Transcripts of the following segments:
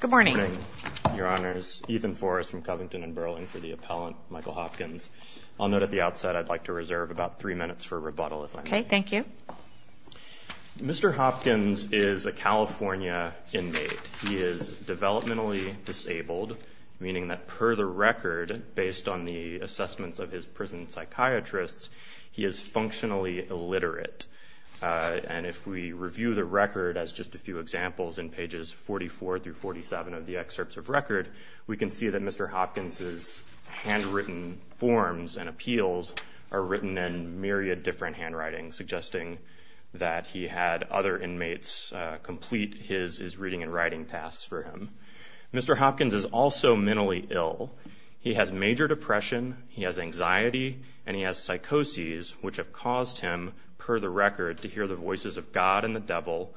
Good morning, Your Honors. Ethan Forrest from Covington & Burling for the Appellant, Michael Hopkins. I'll note at the outset I'd like to reserve about three minutes for rebuttal, if I may. Okay, thank you. Mr. Hopkins is a California inmate. He is developmentally disabled, meaning that per the record, based on the assessments of his prison psychiatrists, he is functionally illiterate. And if we review the record as just a few examples in pages 44 through 47 of the excerpts of record, we can see that Mr. Hopkins' handwritten forms and appeals are written in myriad different handwritings, suggesting that he had other inmates complete his reading and writing tasks for him. Mr. Hopkins is also mentally ill. He has major depression, he has anxiety, and he has psychoses, which have caused him, per the record, to hear the voices of God and the devil,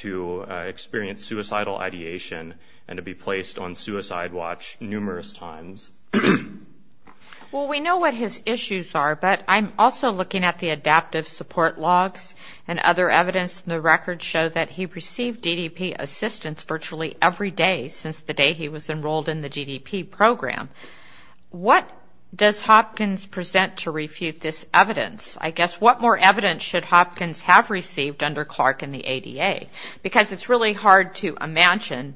to experience suicidal ideation, and to be placed on suicide watch numerous times. Well, we know what his issues are, but I'm also looking at the adaptive support logs and other evidence, and the records show that he received DDP assistance virtually every day since the day he was enrolled in the DDP program. What does Hopkins present to refute this evidence? I guess, what more evidence should Hopkins have received under Clark and the ADA? Because it's really hard to imagine.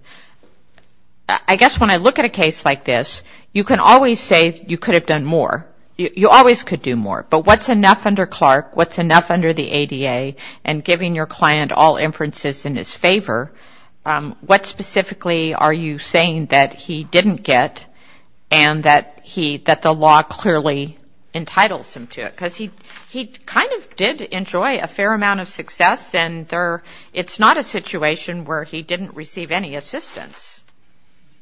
I guess when I look at a case like this, you can always say you could have done more. You always could do more. But what's enough under Clark, what's enough under the ADA, and giving your client all inferences in his favor? What specifically are you saying that he didn't get and that the law clearly entitles him to it? Because he kind of did enjoy a fair amount of success, and it's not a situation where he didn't receive any assistance.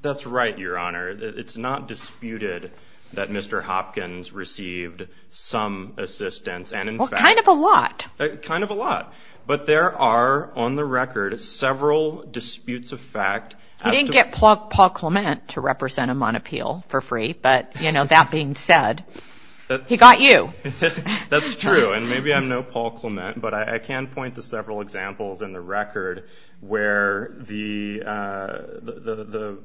That's right, Your Honor. It's not disputed that Mr. Hopkins received some assistance. Well, kind of a lot. Kind of a lot. But there are, on the record, several disputes of fact. He didn't get Paul Clement to represent him on appeal for free, but, you know, that being said, he got you. That's true, and maybe I'm no Paul Clement, but I can point to several examples in the record where the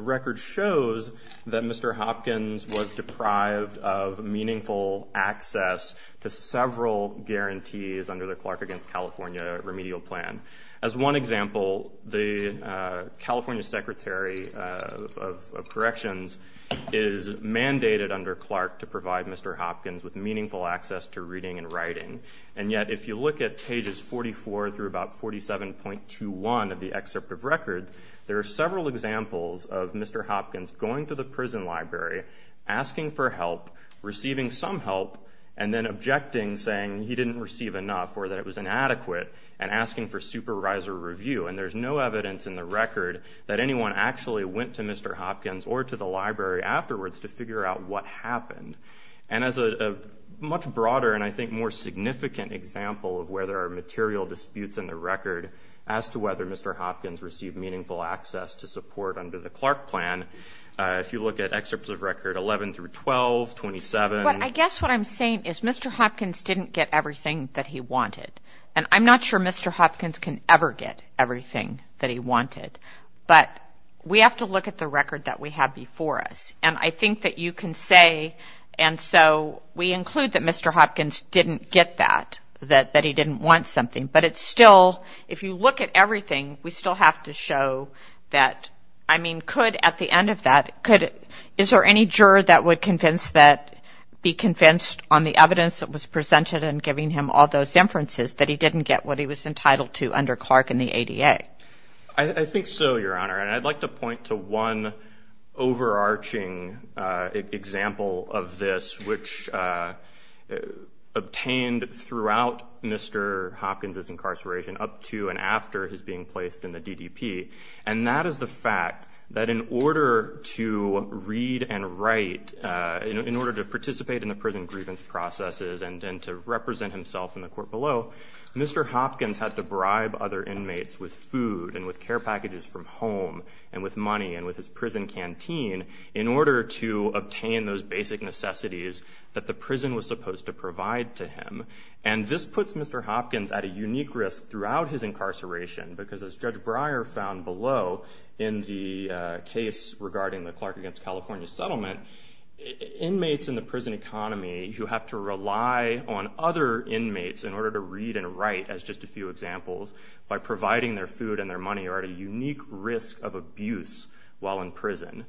record shows that Mr. Hopkins was deprived of meaningful access to several guarantees under the Clark against California remedial plan. As one example, the California Secretary of Corrections is mandated under Clark to provide Mr. Hopkins with meaningful access to reading and writing. And yet, if you look at pages 44 through about 47.21 of the excerpt of record, there are several examples of Mr. Hopkins going to the prison library, asking for help, receiving some help, and then objecting saying he didn't receive enough or that it was inadequate and asking for supervisor review. And there's no evidence in the record that anyone actually went to Mr. Hopkins or to the library afterwards to figure out what happened. And as a much broader and, I think, more significant example of where there are material disputes in the record as to whether Mr. Hopkins received meaningful access to support under the Clark plan, if you look at excerpts of record 11 through 12, 27. But I guess what I'm saying is Mr. Hopkins didn't get everything that he wanted. And I'm not sure Mr. Hopkins can ever get everything that he wanted, but we have to look at the record that we have before us. And I think that you can say, and so we include that Mr. Hopkins didn't get that, that he didn't want something. But it's still, if you look at everything, we still have to show that, I mean, could at the end of that, is there any juror that would be convinced on the evidence that was presented and giving him all those inferences that he didn't get what he was entitled to under Clark and the ADA? I think so, Your Honor. And I'd like to point to one overarching example of this, which obtained throughout Mr. Hopkins' incarceration up to and after his being placed in the DDP. And that is the fact that in order to read and write, in order to participate in the prison grievance processes and then to represent himself in the court below, Mr. Hopkins had to bribe other inmates with food and with care packages from home and with money and with his prison canteen in order to obtain those basic necessities that the prison was supposed to provide to him. And this puts Mr. Hopkins at a unique risk throughout his incarceration, because as Judge Breyer found below in the case regarding the Clark against California settlement, inmates in the prison economy who have to rely on other inmates in order to read and write, as just a few examples, by providing their food and their money, are at a unique risk of abuse while in prison.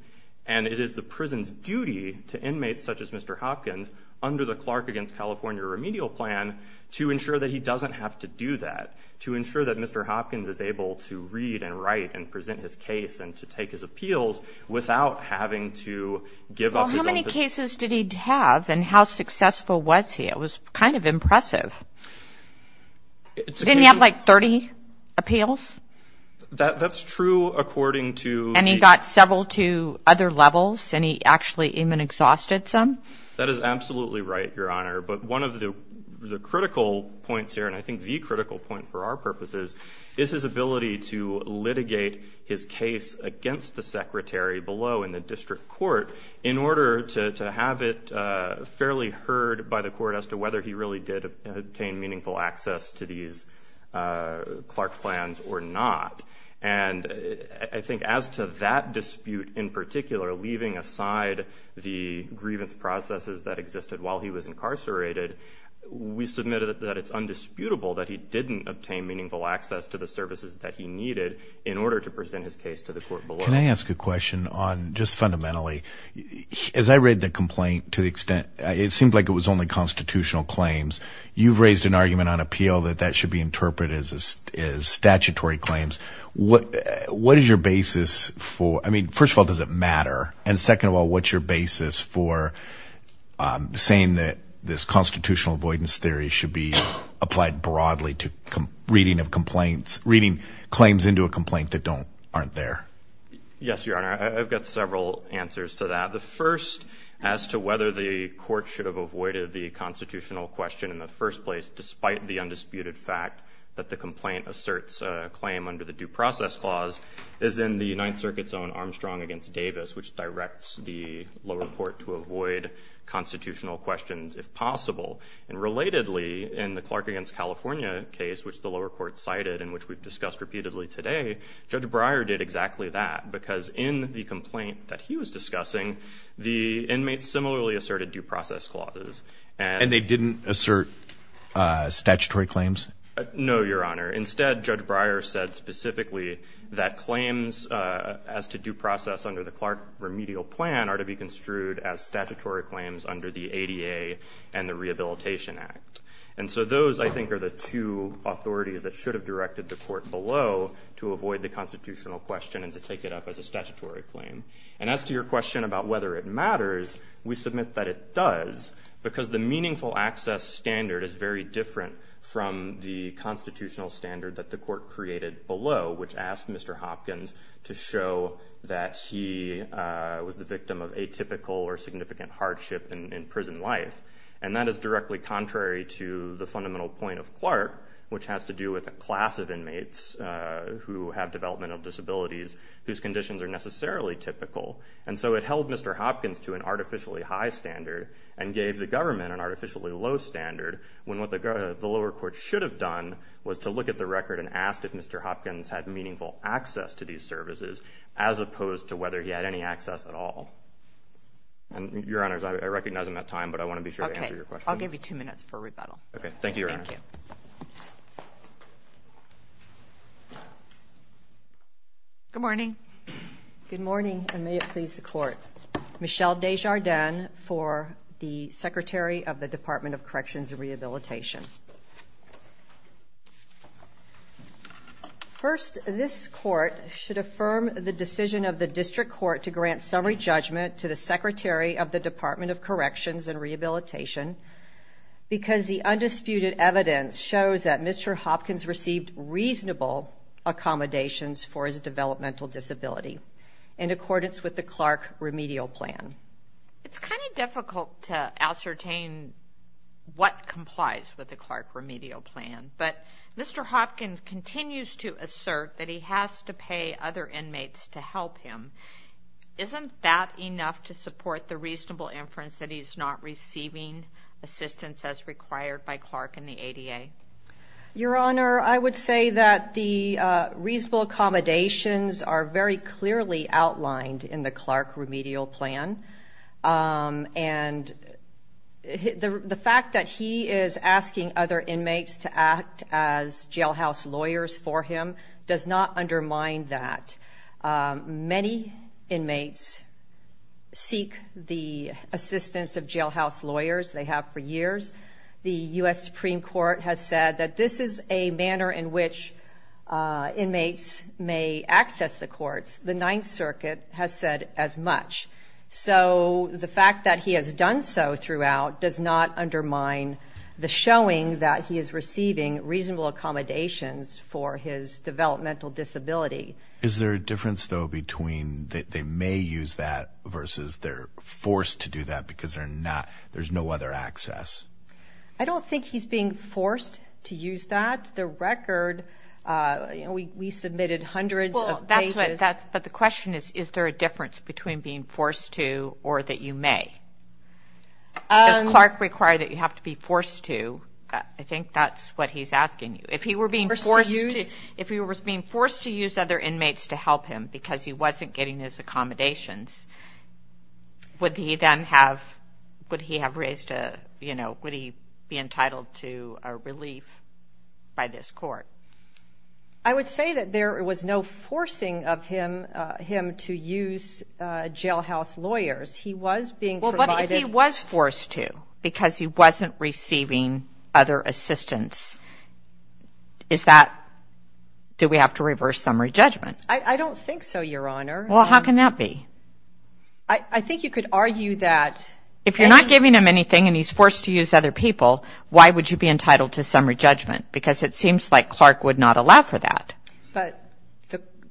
And it is the prison's duty to inmates such as Mr. Hopkins, under the Clark against California remedial plan, to ensure that he doesn't have to do that, to ensure that Mr. Hopkins is able to read and write and present his case and to take his appeals without having to give up his own position. Well, how many cases did he have and how successful was he? It was kind of impressive. Didn't he have, like, 30 appeals? That's true according to the... And he got several to other levels, and he actually even exhausted some? That is absolutely right, Your Honor. But one of the critical points here, and I think the critical point for our purposes, is his ability to litigate his case against the secretary below in the district court in order to have it fairly heard by the court as to whether he really did obtain meaningful access to these Clark plans or not. And I think as to that dispute in particular, leaving aside the grievance processes that existed while he was incarcerated, we submit that it's undisputable that he didn't obtain meaningful access to the services that he needed in order to present his case to the court below. Can I ask a question on just fundamentally, as I read the complaint to the extent, it seemed like it was only constitutional claims. You've raised an argument on appeal that that should be interpreted as statutory claims. What is your basis for, I mean, first of all, does it matter? And second of all, what's your basis for saying that this constitutional avoidance theory should be applied broadly to reading of complaints, reading claims into a complaint that aren't there? Yes, Your Honor. I've got several answers to that. The first, as to whether the court should have avoided the constitutional question in the first place, despite the undisputed fact that the complaint asserts a claim under the due process clause, is in the Ninth Circuit's own Armstrong v. Davis, which directs the lower court to avoid constitutional questions if possible. And relatedly, in the Clark v. California case, which the lower court cited and which we've discussed repeatedly today, Judge Breyer did exactly that, because in the complaint that he was discussing, the inmates similarly asserted due process clauses. And they didn't assert statutory claims? No, Your Honor. Instead, Judge Breyer said specifically that claims as to due process under the Clark remedial plan are to be construed as statutory claims under the ADA and the Rehabilitation Act. And so those, I think, are the two authorities that should have directed the court below to avoid the constitutional question and to take it up as a statutory claim. And as to your question about whether it matters, we submit that it does, because the meaningful access standard is very different from the constitutional standard that the court created below, which asked Mr. Hopkins to show that he was the victim of atypical or significant hardship in prison life. And that is directly contrary to the fundamental point of Clark, which has to do with a class of inmates who have developmental disabilities whose conditions are necessarily typical. And so it held Mr. Hopkins to an artificially high standard and gave the government an artificially low standard when what the lower court should have done was to look at the record and ask if Mr. Hopkins had meaningful access to these services as opposed to whether he had any access at all. And, Your Honors, I recognize I'm out of time, but I want to be sure to answer your question. Okay. I'll give you two minutes for rebuttal. Okay. Thank you, Your Honor. Thank you. Good morning. Good morning, and may it please the Court. Michelle Desjardins for the Secretary of the Department of Corrections and Rehabilitation. First, this Court should affirm the decision of the District Court to grant summary judgment to the Secretary of the Department of Corrections and Rehabilitation because the undisputed evidence shows that Mr. Hopkins received reasonable accommodations for his developmental disability in accordance with the Clark remedial plan. It's kind of difficult to ascertain what complies with the Clark remedial plan, but Mr. Hopkins continues to assert that he has to pay other inmates to help him. Isn't that enough to support the reasonable inference that he's not receiving assistance as required by Clark and the ADA? Your Honor, I would say that the reasonable accommodations are very clearly outlined in the Clark remedial plan, and the fact that he is asking other inmates to act as jailhouse lawyers for him does not undermine that. Many inmates seek the assistance of jailhouse lawyers. They have for years. The U.S. Supreme Court has said that this is a manner in which inmates may access the courts. The Ninth Circuit has said as much. So the fact that he has done so throughout does not undermine the showing that he is receiving reasonable accommodations for his developmental disability. Is there a difference, though, between they may use that versus they're forced to do that because there's no other access? I don't think he's being forced to use that. The record, we submitted hundreds of pages. But the question is, is there a difference between being forced to or that you may? Does Clark require that you have to be forced to? I think that's what he's asking you. If he was being forced to use other inmates to help him because he wasn't getting his accommodations, would he then have raised a, you know, would he be entitled to a relief by this court? I would say that there was no forcing of him to use jailhouse lawyers. He was being provided. Well, but if he was forced to because he wasn't receiving other assistance, is that, do we have to reverse summary judgment? I don't think so, Your Honor. Well, how can that be? I think you could argue that. If you're not giving him anything and he's forced to use other people, why would you be entitled to summary judgment? Because it seems like Clark would not allow for that. But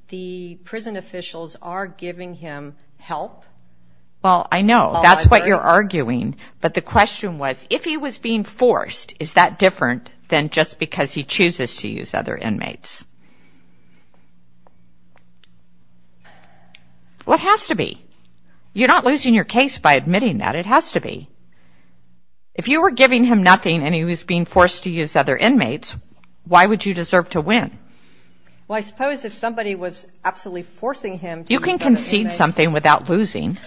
the prison officials are giving him help. Well, I know. That's what you're arguing. But the question was, if he was being forced, is that different than just because he chooses to use other inmates? Well, it has to be. You're not losing your case by admitting that. It has to be. If you were giving him nothing and he was being forced to use other inmates, why would you deserve to win? Well, I suppose if somebody was absolutely forcing him to use other inmates. You can concede something without losing.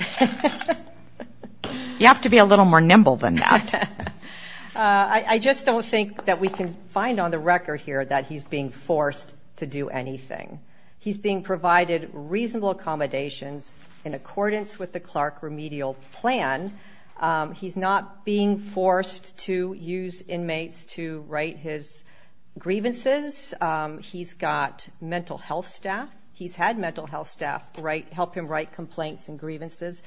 You have to be a little more nimble than that. I just don't think that we can find on the record here that he's being forced to do anything. He's being provided reasonable accommodations in accordance with the Clark remedial plan. He's not being forced to use inmates to write his grievances. He's got mental health staff. He's had mental health staff help him write complaints and grievances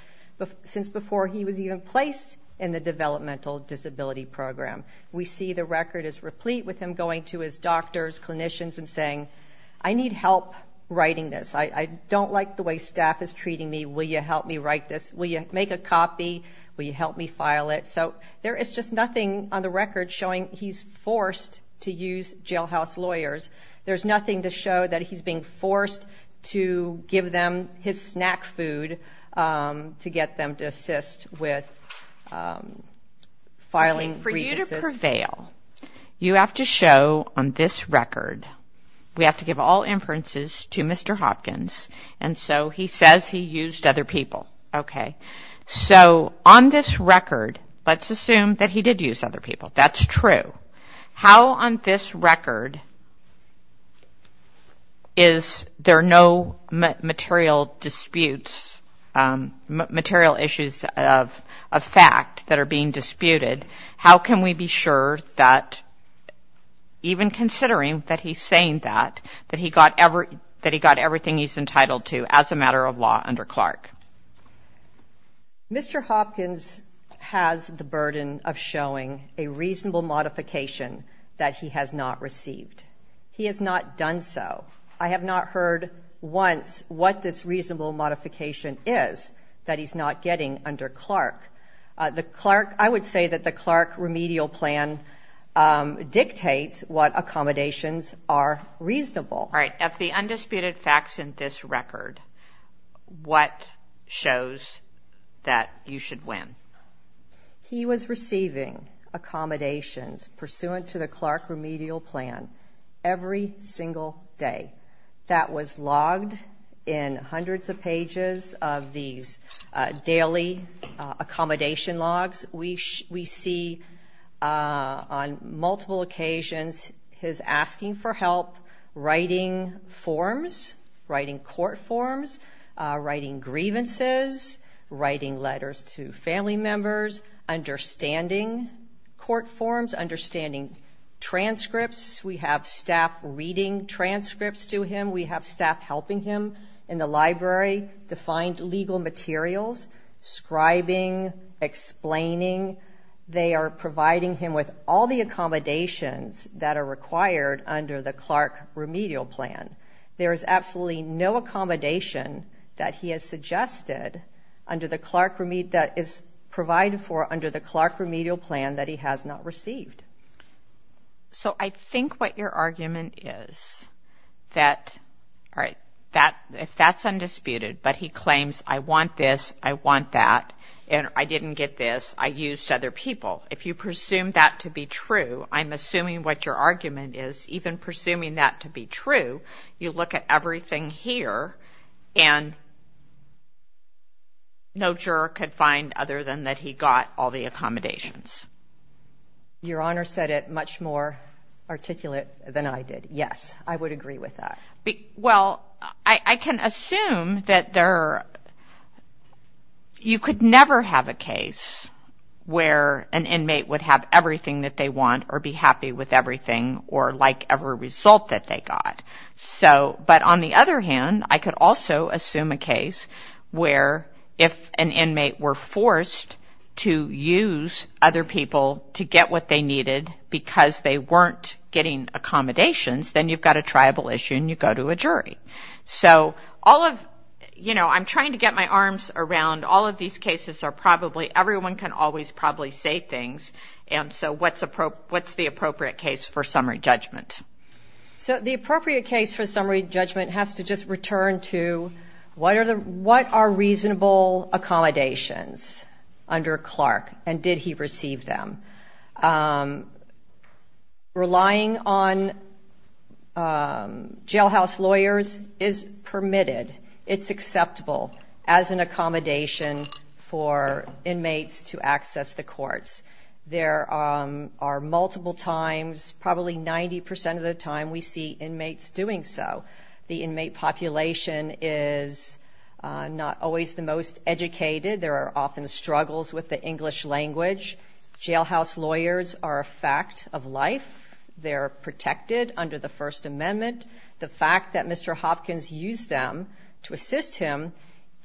since before he was even placed in the developmental disability program. We see the record is replete with him going to his doctors, clinicians, and saying, I need help writing this. I don't like the way staff is treating me. Will you help me write this? Will you make a copy? Will you help me file it? So there is just nothing on the record showing he's forced to use jailhouse lawyers. There's nothing to show that he's being forced to give them his snack food to get them to assist with filing grievances. For you to prevail, you have to show on this record, we have to give all inferences to Mr. Hopkins, and so he says he used other people. Okay. So on this record, let's assume that he did use other people. That's true. How on this record is there no material disputes, material issues of fact that are being disputed? How can we be sure that even considering that he's saying that, that he got everything he's entitled to as a matter of law under Clark? Mr. Hopkins has the burden of showing a reasonable modification that he has not received. He has not done so. I have not heard once what this reasonable modification is that he's not getting under Clark. I would say that the Clark remedial plan dictates what accommodations are reasonable. All right. Of the undisputed facts in this record, what shows that you should win? He was receiving accommodations pursuant to the Clark remedial plan every single day. That was logged in hundreds of pages of these daily accommodation logs. We see on multiple occasions his asking for help, writing forms, writing court forms, writing grievances, writing letters to family members, understanding court forms, understanding transcripts. We have staff reading transcripts to him. We have staff helping him in the library to find legal materials, scribing, explaining. They are providing him with all the accommodations that are required under the Clark remedial plan. There is absolutely no accommodation that he has suggested under the Clark remedial, that is provided for under the Clark remedial plan that he has not received. So I think what your argument is that, all right, if that's undisputed, but he claims, I want this, I want that, and I didn't get this, I used other people. If you presume that to be true, I'm assuming what your argument is, even presuming that to be true, you look at everything here and no juror could find other than that he got all the accommodations. Your Honor said it much more articulate than I did. Yes, I would agree with that. Well, I can assume that you could never have a case where an inmate would have everything that they want or be happy with everything or like every result that they got. But on the other hand, I could also assume a case where if an inmate were forced to use other people to get what they needed because they weren't getting accommodations, then you've got a tribal issue and you go to a jury. So all of, you know, I'm trying to get my arms around all of these cases are probably, everyone can always probably say things, and so what's the appropriate case for summary judgment? So the appropriate case for summary judgment has to just return to what are reasonable accommodations under Clark and did he receive them? Relying on jailhouse lawyers is permitted. It's acceptable as an accommodation for inmates to access the courts. There are multiple times, probably 90% of the time we see inmates doing so. The inmate population is not always the most educated. There are often struggles with the English language. Jailhouse lawyers are a fact of life. They're protected under the First Amendment. The fact that Mr. Hopkins used them to assist him,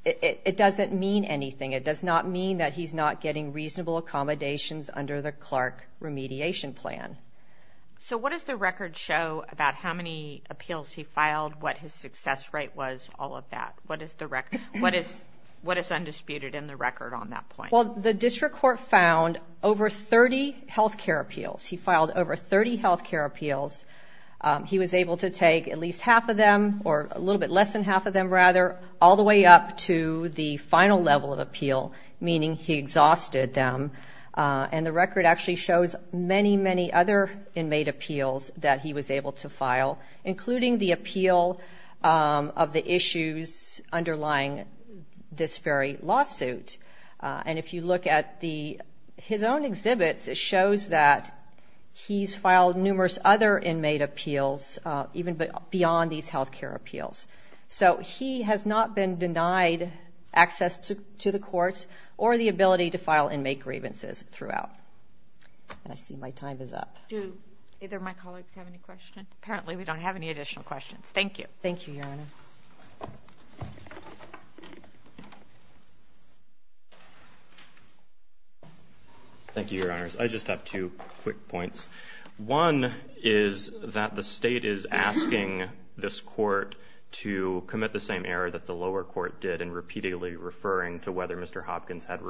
it doesn't mean anything. It does not mean that he's not getting reasonable accommodations under the Clark remediation plan. So what does the record show about how many appeals he filed, what his success rate was, all of that? What is undisputed in the record on that point? Well, the district court found over 30 health care appeals. He filed over 30 health care appeals. He was able to take at least half of them, or a little bit less than half of them rather, all the way up to the final level of appeal, meaning he exhausted them. And the record actually shows many, many other inmate appeals that he was able to file, including the appeal of the issues underlying this very lawsuit. And if you look at his own exhibits, it shows that he's filed numerous other inmate appeals, even beyond these health care appeals. So he has not been denied access to the courts or the ability to file inmate grievances throughout. And I see my time is up. Do either of my colleagues have any questions? Apparently we don't have any additional questions. Thank you. Thank you, Your Honor. Thank you, Your Honors. I just have two quick points. One is that the state is asking this court to commit the same error that the lower court did in repeatedly referring to whether Mr. Hopkins had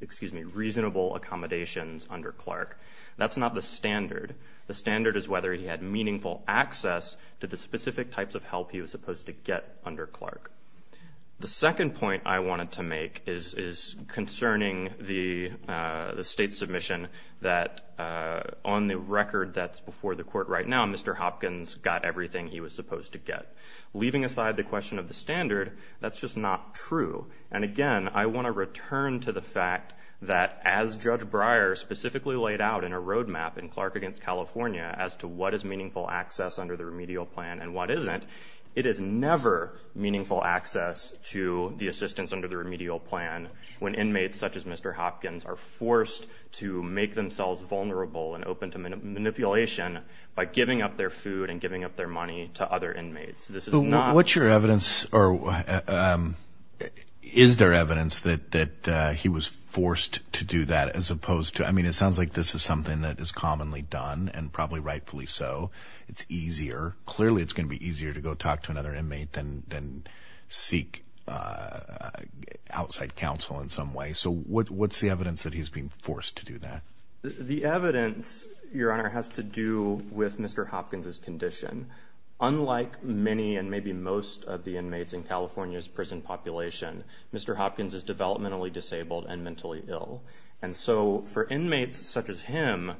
reasonable accommodations under Clark. That's not the standard. The standard is whether he had meaningful access to the specific types of help he was supposed to get under Clark. The second point I wanted to make is concerning the state submission that, on the record that's before the court right now, Mr. Hopkins got everything he was supposed to get. Leaving aside the question of the standard, that's just not true. And, again, I want to return to the fact that, as Judge Breyer specifically laid out in a roadmap in Clark v. California as to what is meaningful access under the remedial plan and what isn't, it is never meaningful access to the assistance under the remedial plan when inmates such as Mr. Hopkins are forced to make themselves vulnerable and open to manipulation by giving up their food and giving up their money to other inmates. This is not. What's your evidence or is there evidence that he was forced to do that as opposed to, I mean it sounds like this is something that is commonly done and probably rightfully so. It's easier. Clearly it's going to be easier to go talk to another inmate than seek outside counsel in some way. So what's the evidence that he's being forced to do that? The evidence, Your Honor, has to do with Mr. Hopkins' condition. Unlike many and maybe most of the inmates in California's prison population, Mr. Hopkins is developmentally disabled and mentally ill. And so for inmates such as him,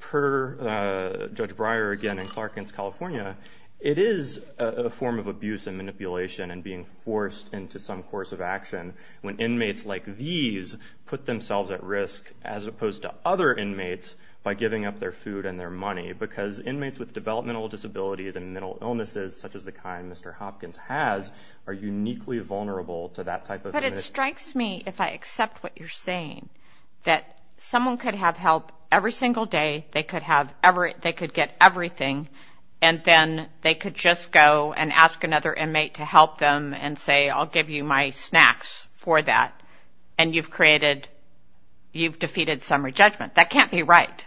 per Judge Breyer again in Clark v. California, it is a form of abuse and manipulation and being forced into some course of action when inmates like these put themselves at risk as opposed to other inmates by giving up their food and their money because inmates with developmental disabilities and mental illnesses such as the kind Mr. Hopkins has are uniquely vulnerable to that type of inmate. But it strikes me, if I accept what you're saying, that someone could have help every single day, they could get everything, and then they could just go and ask another inmate to help them and say, I'll give you my snacks for that, and you've created, you've defeated summary judgment. That can't be right.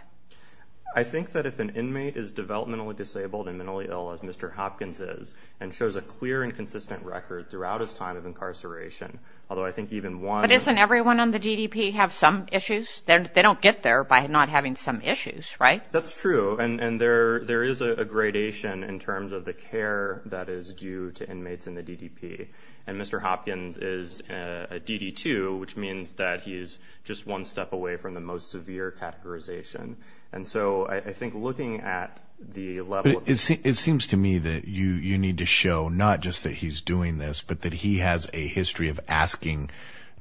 I think that if an inmate is developmentally disabled and mentally ill as Mr. Hopkins is and shows a clear and consistent record throughout his time of incarceration, although I think even one of the But isn't everyone on the DDP have some issues? They don't get there by not having some issues, right? That's true, and there is a gradation in terms of the care that is due to inmates in the DDP. And Mr. Hopkins is a DD2, which means that he is just one step away from the most severe categorization. And so I think looking at the level of it seems to me that you need to show not just that he's doing this, but that he has a history of asking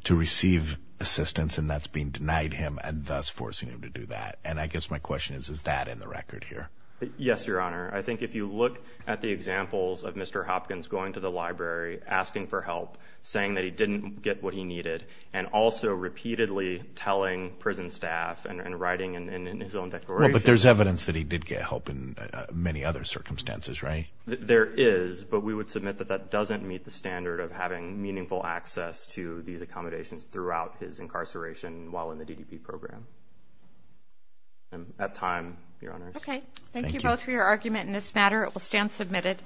to receive assistance, and that's being denied him and thus forcing him to do that. And I guess my question is, is that in the record here? Yes, Your Honor. I think if you look at the examples of Mr. Hopkins going to the library, asking for help, saying that he didn't get what he needed, and also repeatedly telling prison staff and writing in his own declaration. But there's evidence that he did get help in many other circumstances, right? There is, but we would submit that that doesn't meet the standard of having meaningful access to these accommodations throughout his incarceration while in the DDP program. And at time, Your Honor. Okay, thank you both for your argument in this matter. It will stand submitted.